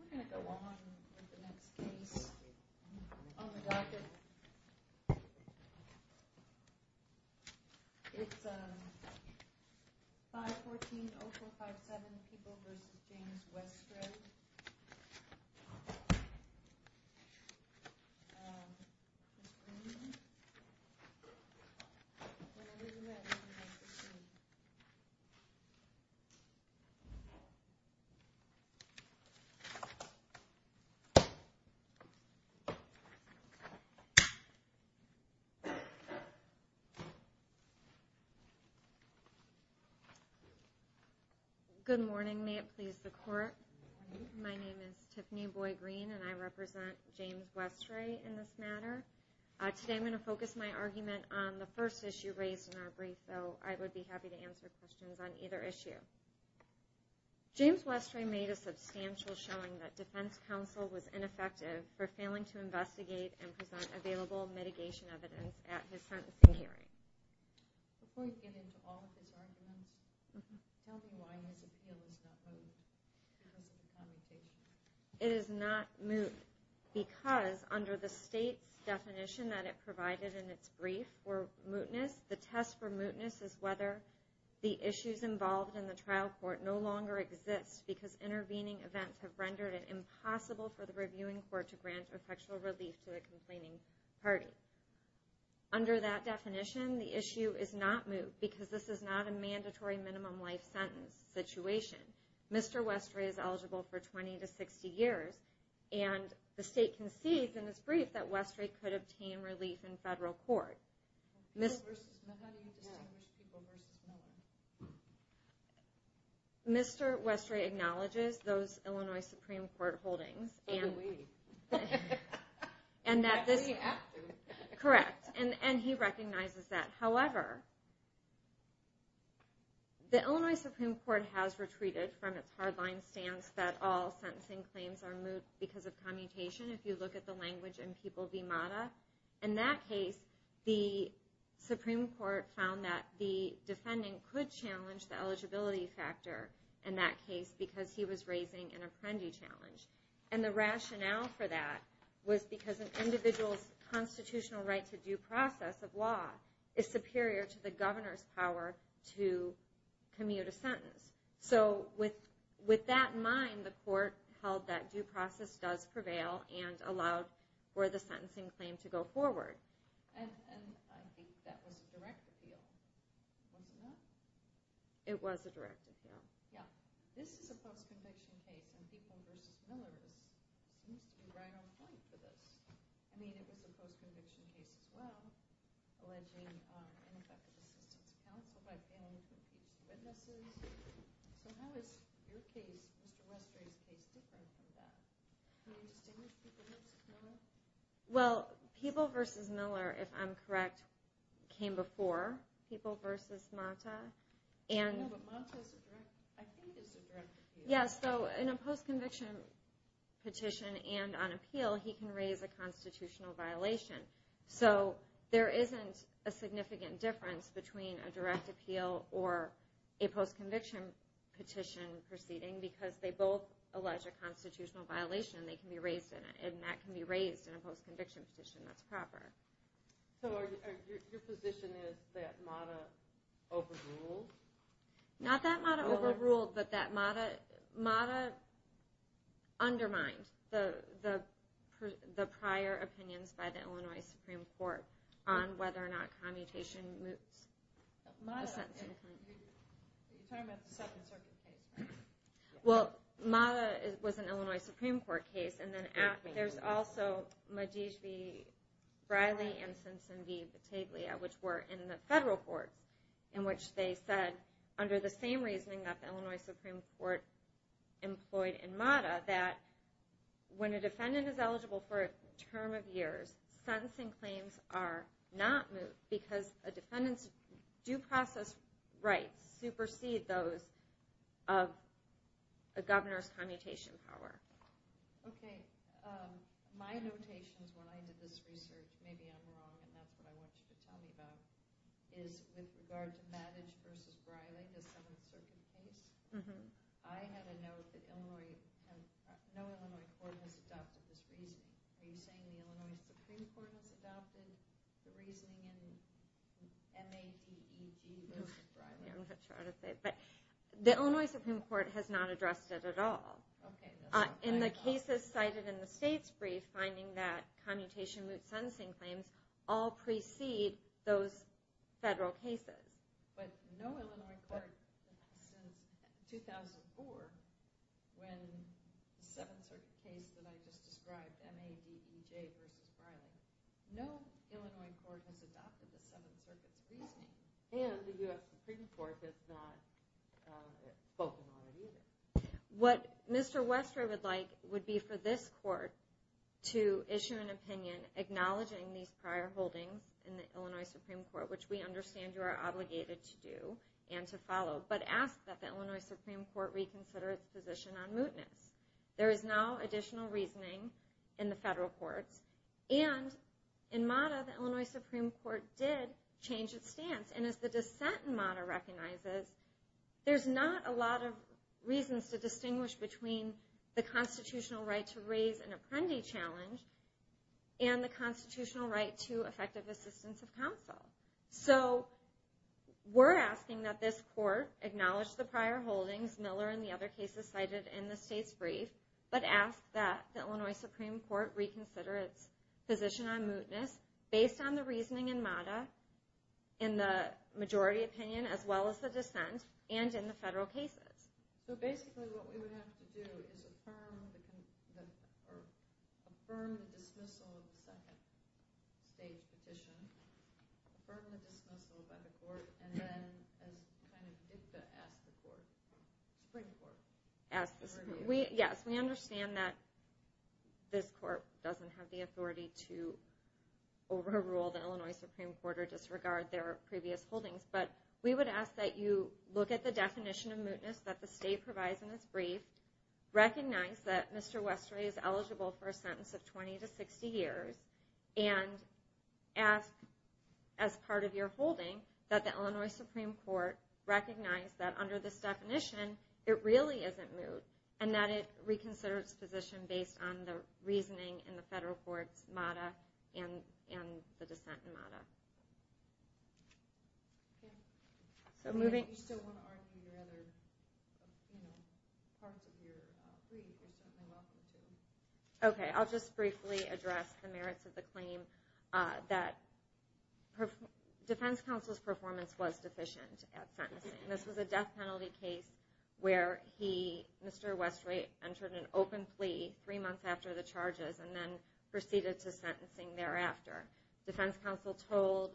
We're going to go on with the next case on the docket. It's 514-0457 People v. James Westray. Good morning. May it please the court. My name is Tiffany Boy Green and I represent James Westray in this matter. Today I'm going to focus my argument on the first issue raised in our brief, so I would be happy to answer questions on either issue. James Westray made a substantial showing that defense counsel was ineffective for failing to investigate and present available mitigation evidence at his sentencing hearing. Before you get into all of his arguments, tell me why his appeal is not moot. It is not moot because under the state's definition that it provided in its brief for mootness, the test for mootness is whether the issues involved in the trial court no longer exist because intervening events have rendered it impossible for the reviewing court to grant effectual relief to a complaining party. Under that definition, the issue is not moot because this is not a mandatory minimum life sentence situation. Mr. Westray is eligible for 20 to 60 years and the state concedes in its brief that Westray could obtain relief in federal court. How do you distinguish people versus men? Mr. Westray acknowledges those Illinois Supreme Court holdings. Oh, do we? We have to. Correct, and he recognizes that. However, the Illinois Supreme Court has retreated from its hardline stance that all sentencing claims are moot because of commutation if you look at the language in People v. Mata. In that case, the Supreme Court found that the defendant could challenge the eligibility factor in that case because he was raising an apprendee challenge. The rationale for that was because an individual's constitutional right to due process of law is superior to the governor's power to commute a sentence. So with that in mind, the court held that due process does prevail and allowed for the sentencing claim to go forward. And I think that was a direct appeal, wasn't it? It was a direct appeal. Yeah. This is a post-conviction case, and People v. Miller used to be right on point for this. I mean, it was a post-conviction case as well alleging ineffective assistance of counsel by failing witnesses. So how is your case, Mr. Westray's case, different from that? Can you distinguish People v. Miller? Well, People v. Miller, if I'm correct, came before People v. Mata. Yeah, but Mata, I think, is a direct appeal. Yeah, so in a post-conviction petition and on appeal, he can raise a constitutional violation. So there isn't a significant difference between a direct appeal or a post-conviction petition proceeding because they both allege a constitutional violation. They can be raised in it, and that can be raised in a post-conviction petition that's proper. So your position is that Mata overruled? Not that Mata overruled, but that Mata undermined the prior opinions by the Illinois Supreme Court on whether or not commutation moves the sentencing claim. You're talking about the Second Circuit case, right? Well, Mata was an Illinois Supreme Court case. And then there's also Madige v. Riley and Simpson v. Battaglia, which were in the federal court, in which they said, under the same reasoning that the Illinois Supreme Court employed in Mata, that when a defendant is eligible for a term of years, sentencing claims are not moved because the defendants' due process rights supersede those of a governor's commutation power. Okay. My notations when I did this research, maybe I'm wrong, and that's what I want you to tell me about, is with regard to Madige v. Riley, the Second Circuit case, I had a note that no Illinois court has adopted this reasoning. Are you saying the Illinois Supreme Court has adopted the reasoning in Mata v. Riley? I'm not sure how to say it, but the Illinois Supreme Court has not addressed it at all. In the cases cited in the state's brief, finding that commutation moot sentencing claims all precede those federal cases. But no Illinois court since 2004, when the Seventh Circuit case that I just described, Madige v. Riley, no Illinois court has adopted the Seventh Circuit's reasoning. And the U.S. Supreme Court has not spoken on it either. What Mr. Westray would like would be for this court to issue an opinion acknowledging these prior holdings in the Illinois Supreme Court, which we understand you are obligated to do and to follow, but ask that the Illinois Supreme Court reconsider its position on mootness. There is now additional reasoning in the federal courts. And in Mata, the Illinois Supreme Court did change its stance. And as the dissent in Mata recognizes, there's not a lot of reasons to distinguish between the constitutional right to raise an apprendee challenge and the constitutional right to effective assistance of counsel. So we're asking that this court acknowledge the prior holdings, Miller and the other cases cited in the state's brief, but ask that the Illinois Supreme Court reconsider its position on mootness based on the reasoning in Mata, in the majority opinion as well as the dissent, and in the federal cases. So basically what we would have to do is affirm the dismissal of the second state petition, affirm the dismissal by the court, and then kind of ask the Supreme Court. Yes, we understand that this court doesn't have the authority to overrule the Illinois Supreme Court or disregard their previous holdings, but we would ask that you look at the definition of mootness that the state provides in its brief, recognize that Mr. Westray is eligible for a sentence of 20 to 60 years, and ask, as part of your holding, that the Illinois Supreme Court recognize that under this definition, it really isn't moot, and that it reconsider its position based on the reasoning in the federal court's Mata and the dissent in Mata. Okay, I'll just briefly address the merits of the claim that Defense Counsel's performance was deficient at sentencing. This was a death penalty case where Mr. Westray entered an open plea three months after the charges and then proceeded to sentencing thereafter. Defense Counsel told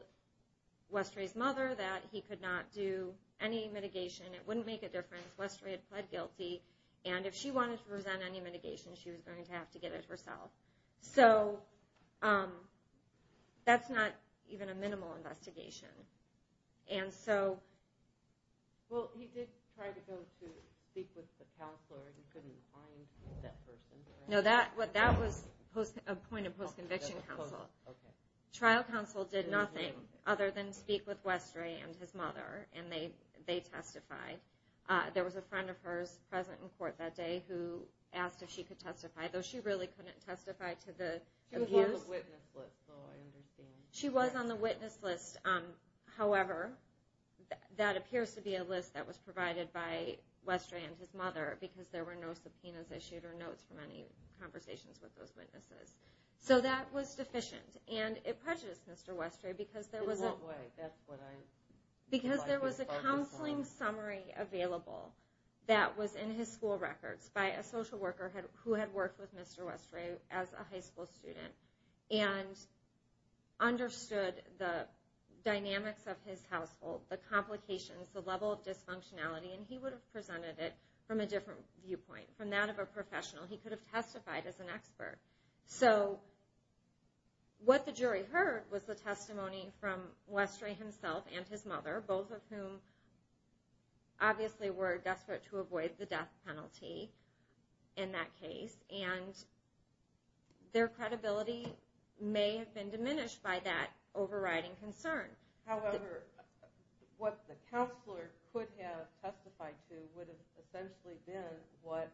Westray's mother that he could not do any mitigation. It wouldn't make a difference. Westray had pled guilty, and if she wanted to present any mitigation, she was going to have to get it herself. So that's not even a minimal investigation. Well, he did try to go to speak with the counselor. He couldn't find that person. No, that was a point of post-conviction counsel. Okay. Trial counsel did nothing other than speak with Westray and his mother, and they testified. There was a friend of hers present in court that day who asked if she could testify, though she really couldn't testify to the abuse. She was on the witness list, so I understand. She was on the witness list. However, that appears to be a list that was provided by Westray and his mother because there were no subpoenas issued or notes from any conversations with those witnesses. So that was deficient, and it prejudiced Mr. Westray because there was a counseling summary available that was in his school records by a social worker who had worked with Mr. Westray as a high school student. And understood the dynamics of his household, the complications, the level of dysfunctionality, and he would have presented it from a different viewpoint, from that of a professional. He could have testified as an expert. So what the jury heard was the testimony from Westray himself and his mother, both of whom obviously were desperate to avoid the death penalty in that case. And their credibility may have been diminished by that overriding concern. However, what the counselor could have testified to would have essentially been what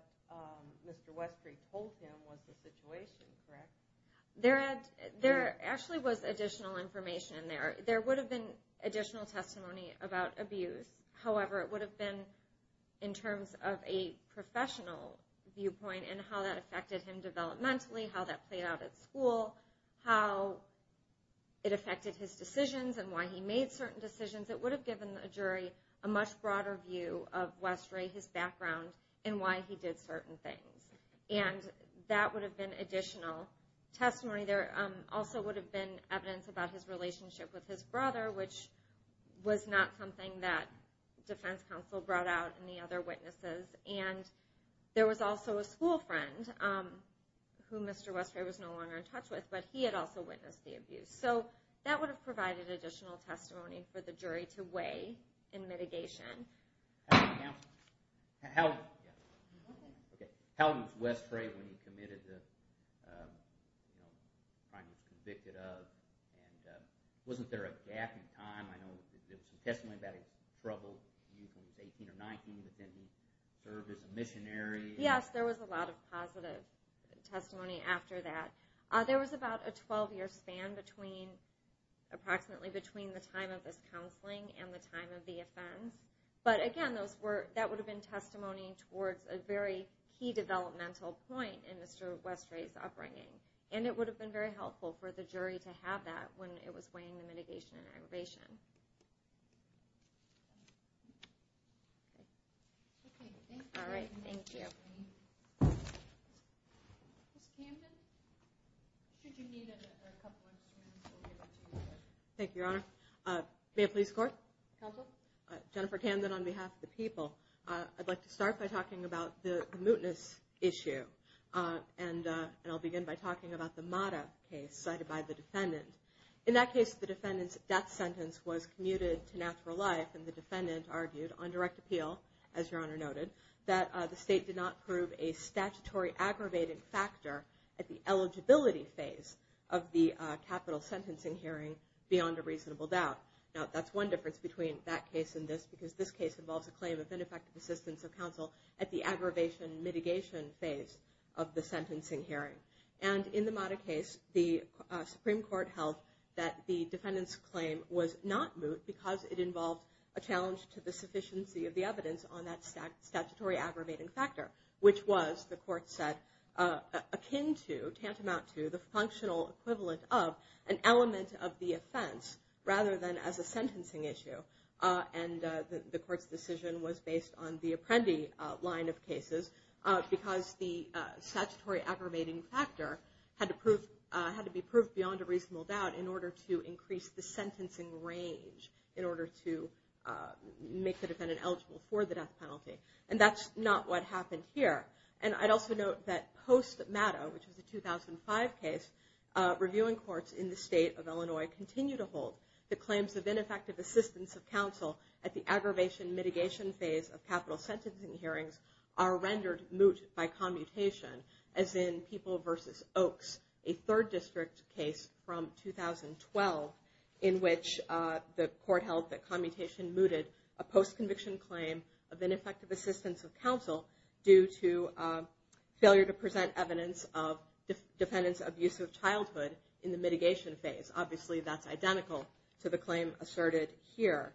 Mr. Westray told him was the situation, correct? There actually was additional information in there. There would have been additional testimony about abuse. However, it would have been in terms of a professional viewpoint and how that affected him developmentally, how that played out at school, how it affected his decisions and why he made certain decisions. It would have given a jury a much broader view of Westray, his background, and why he did certain things. And that would have been additional testimony. There also would have been evidence about his relationship with his brother, which was not something that the defense counsel brought out and the other witnesses. And there was also a school friend who Mr. Westray was no longer in touch with, but he had also witnessed the abuse. So that would have provided additional testimony for the jury to weigh in mitigation. How was Westray when he committed the crime he was convicted of? And wasn't there a gap in time? I know there was some testimony about he struggled when he was 18 or 19, but then he served as a missionary. Yes, there was a lot of positive testimony after that. There was about a 12-year span approximately between the time of his counseling and the time of the offense. But again, that would have been testimony towards a very key developmental point in Mr. Westray's upbringing. And it would have been very helpful for the jury to have that when it was weighing the mitigation and aggravation. Thank you, Your Honor. May I please go on? Counsel? Jennifer Camden on behalf of the people. I'd like to start by talking about the mootness issue. And I'll begin by talking about the Mata case cited by the defendant. In that case, the defendant's death sentence was commuted to natural life, and the defendant argued on direct appeal, as Your Honor noted, that the state did not prove a statutory aggravating factor at the eligibility phase of the capital sentencing hearing beyond a reasonable doubt. Now, that's one difference between that case and this, because this case involves a claim of ineffective assistance of counsel at the aggravation mitigation phase of the sentencing hearing. And in the Mata case, the Supreme Court held that the defendant's claim was not moot because it involved a challenge to the sufficiency of the evidence on that statutory aggravating factor, which was, the court said, akin to, the functional equivalent of, an element of the offense rather than as a sentencing issue. And the court's decision was based on the Apprendi line of cases because the statutory aggravating factor had to be proved beyond a reasonable doubt in order to increase the sentencing range, in order to make the defendant eligible for the death penalty. And that's not what happened here. And I'd also note that post-Mata, which was a 2005 case, reviewing courts in the state of Illinois continue to hold that claims of ineffective assistance of counsel at the aggravation mitigation phase of capital sentencing hearings are rendered moot by commutation, as in People v. Oaks, a third district case from 2012, in which the court held that commutation mooted a post-conviction claim of ineffective assistance of counsel due to failure to present evidence of defendant's abusive childhood in the mitigation phase. Obviously, that's identical to the claim asserted here.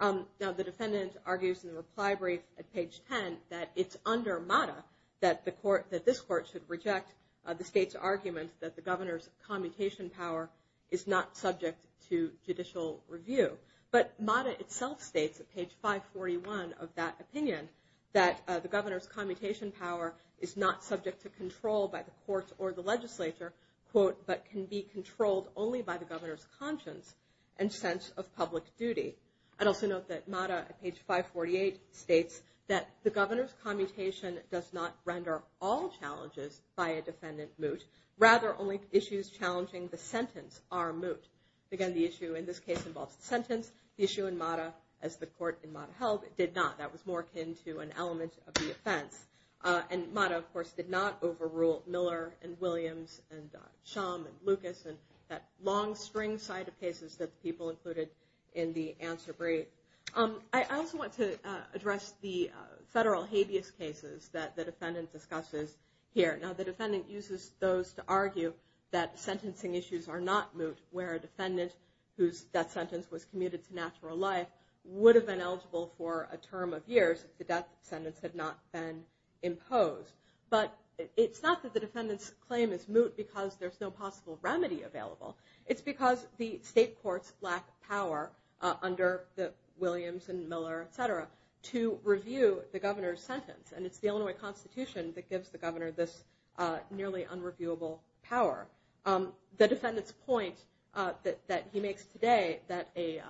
Now, the defendant argues in the reply brief at page 10 that it's under Mata that this court should reject the state's argument that the governor's commutation power is not subject to judicial review. But Mata itself states at page 541 of that opinion that the governor's commutation power is not subject to control by the courts or the legislature, but can be controlled only by the governor's conscience and sense of public duty. I'd also note that Mata at page 548 states that the governor's commutation does not render all challenges by a defendant moot. Rather, only issues challenging the sentence are moot. Again, the issue in this case involves the sentence. The issue in Mata, as the court in Mata held, did not. That was more akin to an element of the offense. And Mata, of course, did not overrule Miller and Williams and Shum and Lucas and that long string side of cases that people included in the answer brief. I also want to address the federal habeas cases that the defendant discusses here. Now, the defendant uses those to argue that sentencing issues are not moot, where a defendant whose death sentence was commuted to natural life would have been eligible for a term of years if the death sentence had not been imposed. But it's not that the defendant's claim is moot because there's no possible remedy available. It's because the state courts lack power under the Williams and Miller, et cetera, to review the governor's sentence. And it's the Illinois Constitution that gives the governor this nearly unreviewable power. The defendant's point that he makes today that a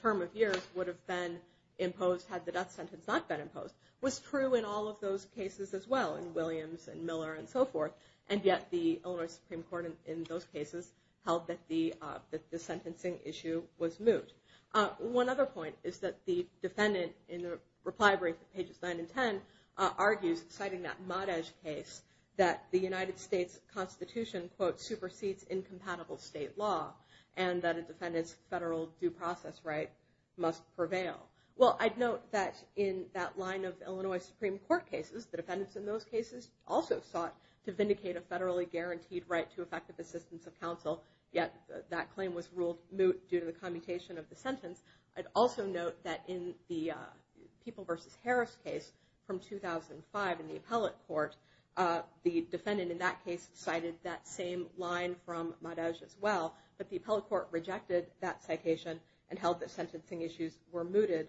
term of years would have been imposed had the death sentence not been imposed was true in all of those cases as well, in Williams and Miller and so forth. And yet the Illinois Supreme Court in those cases held that the sentencing issue was moot. One other point is that the defendant in the reply brief at pages 9 and 10 argues, citing that Madej case, that the United States Constitution, quote, supersedes incompatible state law and that a defendant's federal due process right must prevail. Well, I'd note that in that line of Illinois Supreme Court cases, the defendants in those cases also sought to vindicate a federally guaranteed right to effective assistance of counsel, yet that claim was moot due to the commutation of the sentence. I'd also note that in the People v. Harris case from 2005 in the appellate court, the defendant in that case cited that same line from Madej as well, but the appellate court rejected that citation and held that sentencing issues were mooted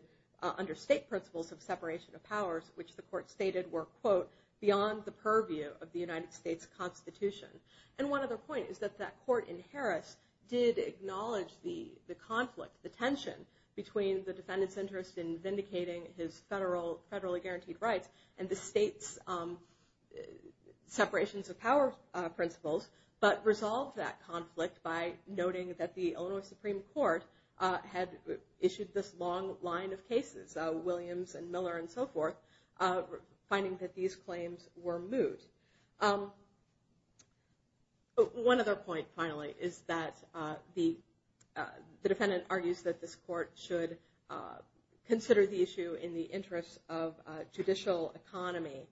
under state principles of separation of powers, which the court stated were, quote, beyond the purview of the United States Constitution. And one other point is that that court in Harris did acknowledge the conflict, the tension between the defendant's interest in vindicating his federally guaranteed rights and the state's separations of power principles, but resolved that conflict by noting that the Illinois Supreme Court had issued this long line of cases, Williams and Miller and so forth, finding that these claims were moot. One other point, finally, is that the defendant argues that this court should consider the issue in the interest of judicial economy,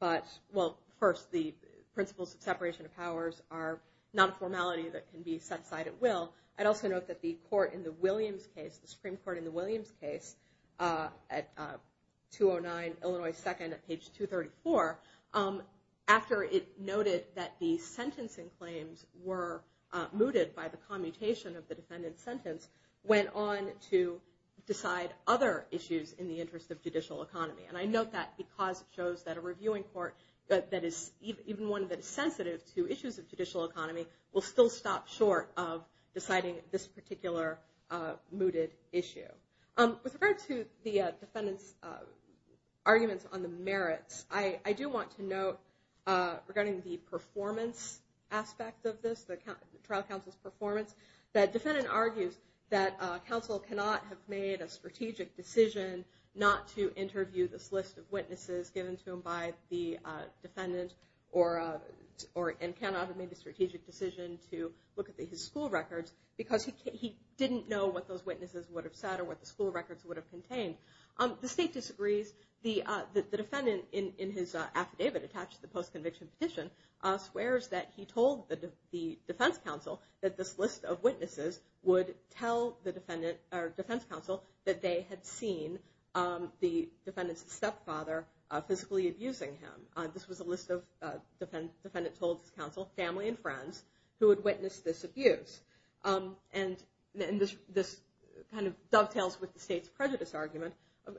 but, well, first, the principles of separation of powers are not a formality that can be set aside at will. I'd also note that the court in the Williams case, the Supreme Court in the Williams case, at 209 Illinois 2nd at page 234, after it noted that the sentencing claims were mooted by the commutation of the defendant's sentence, went on to decide other issues in the interest of judicial economy. And I note that because it shows that a reviewing court that is even one that is sensitive to issues of judicial economy will still stop short of deciding this particular mooted issue. With regard to the defendant's arguments on the merits, I do want to note, regarding the performance aspect of this, the trial counsel's performance, that the defendant argues that counsel cannot have made a strategic decision not to interview this list of witnesses given to him by the defendant and cannot have made the strategic decision to look at his school records because he didn't know what those witnesses would have said or what the school records would have contained. The state disagrees. The defendant, in his affidavit attached to the post-conviction petition, swears that he told the defense counsel that this list of witnesses would tell the defense counsel that they had seen the defendant's stepfather physically abusing him. This was a list of, the defendant told his counsel, family and friends, who had witnessed this abuse. And this dovetails with the state's prejudice argument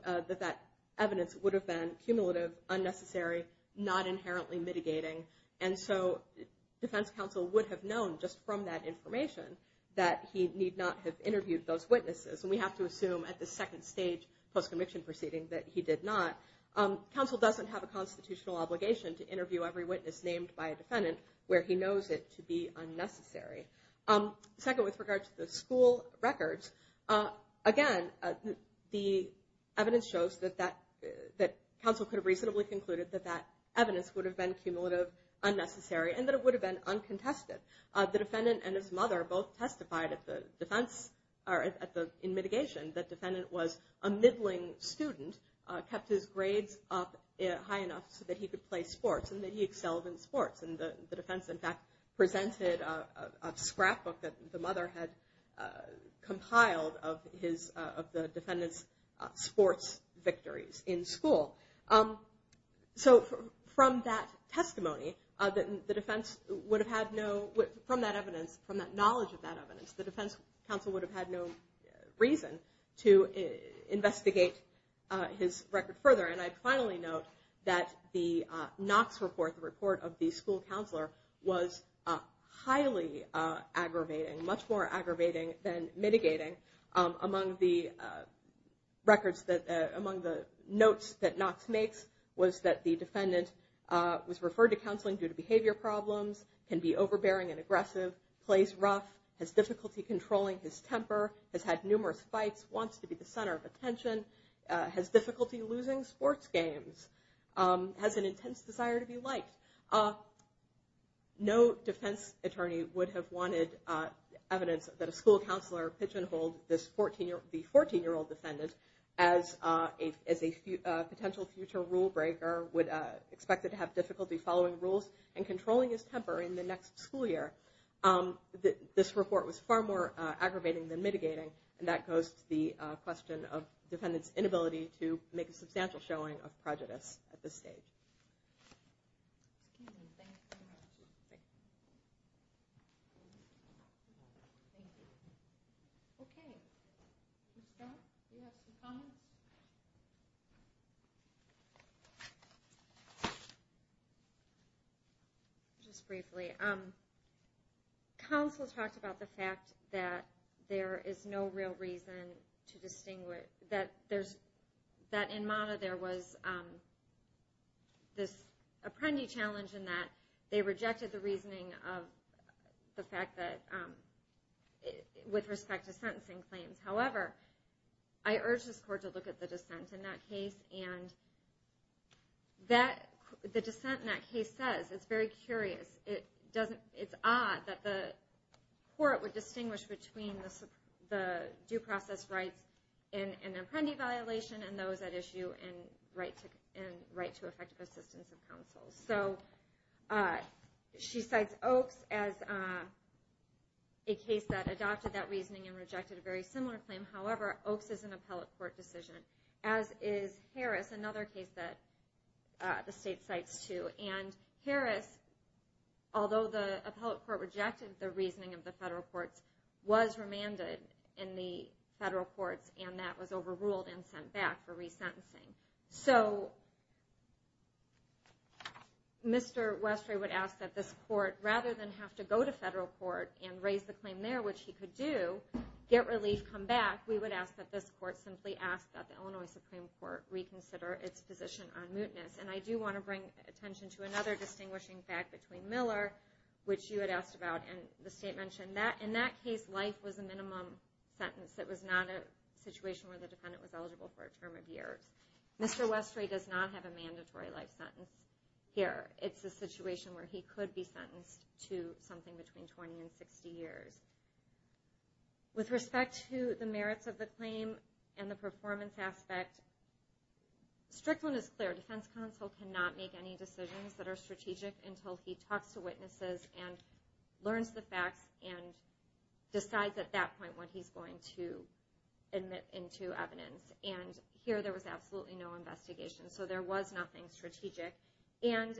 that that evidence would have been cumulative, unnecessary, not inherently mitigating, and so defense counsel would have known just from that information that he need not have interviewed those witnesses. And we have to assume at the second stage post-conviction proceeding that he did not. Counsel doesn't have a constitutional obligation to interview every witness named by a defendant where he knows it to be unnecessary. Second, with regard to the school records, again, the evidence shows that counsel could have reasonably concluded that that evidence would have been cumulative, unnecessary, and that it would have been uncontested. The defendant and his mother both testified in mitigation that the defendant was a middling student, kept his grades up high enough so that he could play sports and that he excelled in sports. And the defense, in fact, presented a scrapbook that the mother had compiled of the defendant's sports victories in school. So from that testimony, the defense would have had no, from that evidence, from that knowledge of that evidence, the defense counsel would have had no reason to investigate his record further. And I finally note that the Knox report, the report of the school counselor, was highly aggravating, much more aggravating than mitigating. Among the notes that Knox makes was that the defendant was referred to counseling due to behavior problems, can be overbearing and aggressive, plays rough, has difficulty controlling his temper, has had numerous fights, wants to be the center of attention, has difficulty losing sports games, has an intense desire to be liked. No defense attorney would have wanted evidence that a school counselor pigeonholed the 14-year-old defendant as a potential future rule breaker, would expect him to have difficulty following rules and controlling his temper in the next school year. This report was far more aggravating than mitigating. And that goes to the question of the defendant's inability to make a substantial showing of prejudice at this stage. Thank you. Okay. Ms. Scott, do you have some comments? Just briefly. Counsel talked about the fact that there is no real reason to distinguish, that in MONA there was this apprendee challenge in that they rejected the reasoning of the fact that, with respect to sentencing claims. However, I urge this court to look at the dissent in that case. And the dissent in that case says, it's very curious, it's odd that the court would distinguish between the due process rights in an apprendee violation and those at issue in right to effective assistance of counsel. So she cites Oakes as a case that adopted that reasoning and rejected a very similar claim. However, Oakes is an appellate court decision, as is Harris, another case that the state cites too. And Harris, although the appellate court rejected the reasoning of the federal courts, was remanded in the federal courts and that was overruled and sent back for resentencing. So Mr. Westray would ask that this court, rather than have to go to federal court and raise the claim there, which he could do, get relief, come back, we would ask that this court simply ask that the Illinois Supreme Court reconsider its position on mootness. And I do want to bring attention to another distinguishing fact between Miller, which you had asked about, and the state mentioned that in that case life was a minimum sentence. It was not a situation where the defendant was eligible for a term of years. Mr. Westray does not have a mandatory life sentence here. It's a situation where he could be sentenced to something between 20 and 60 years. With respect to the merits of the claim and the performance aspect, Strickland is clear. Defense counsel cannot make any decisions that are strategic until he talks to witnesses and learns the facts and decides at that point what he's going to admit into evidence. And here there was absolutely no investigation, so there was nothing strategic. And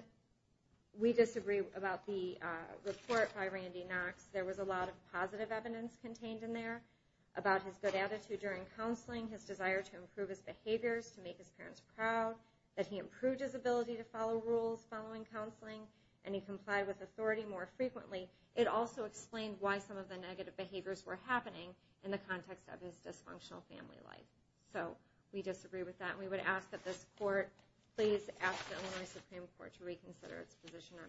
we disagree about the report by Randy Knox. There was a lot of positive evidence contained in there about his good attitude during counseling, his desire to improve his behaviors, to make his parents proud, that he improved his ability to follow rules following counseling, and he complied with authority more frequently. It also explained why some of the negative behaviors were happening in the context of his dysfunctional family life. So we disagree with that. We would ask that this court please ask the Illinois Supreme Court to reconsider its position on this. Thank you.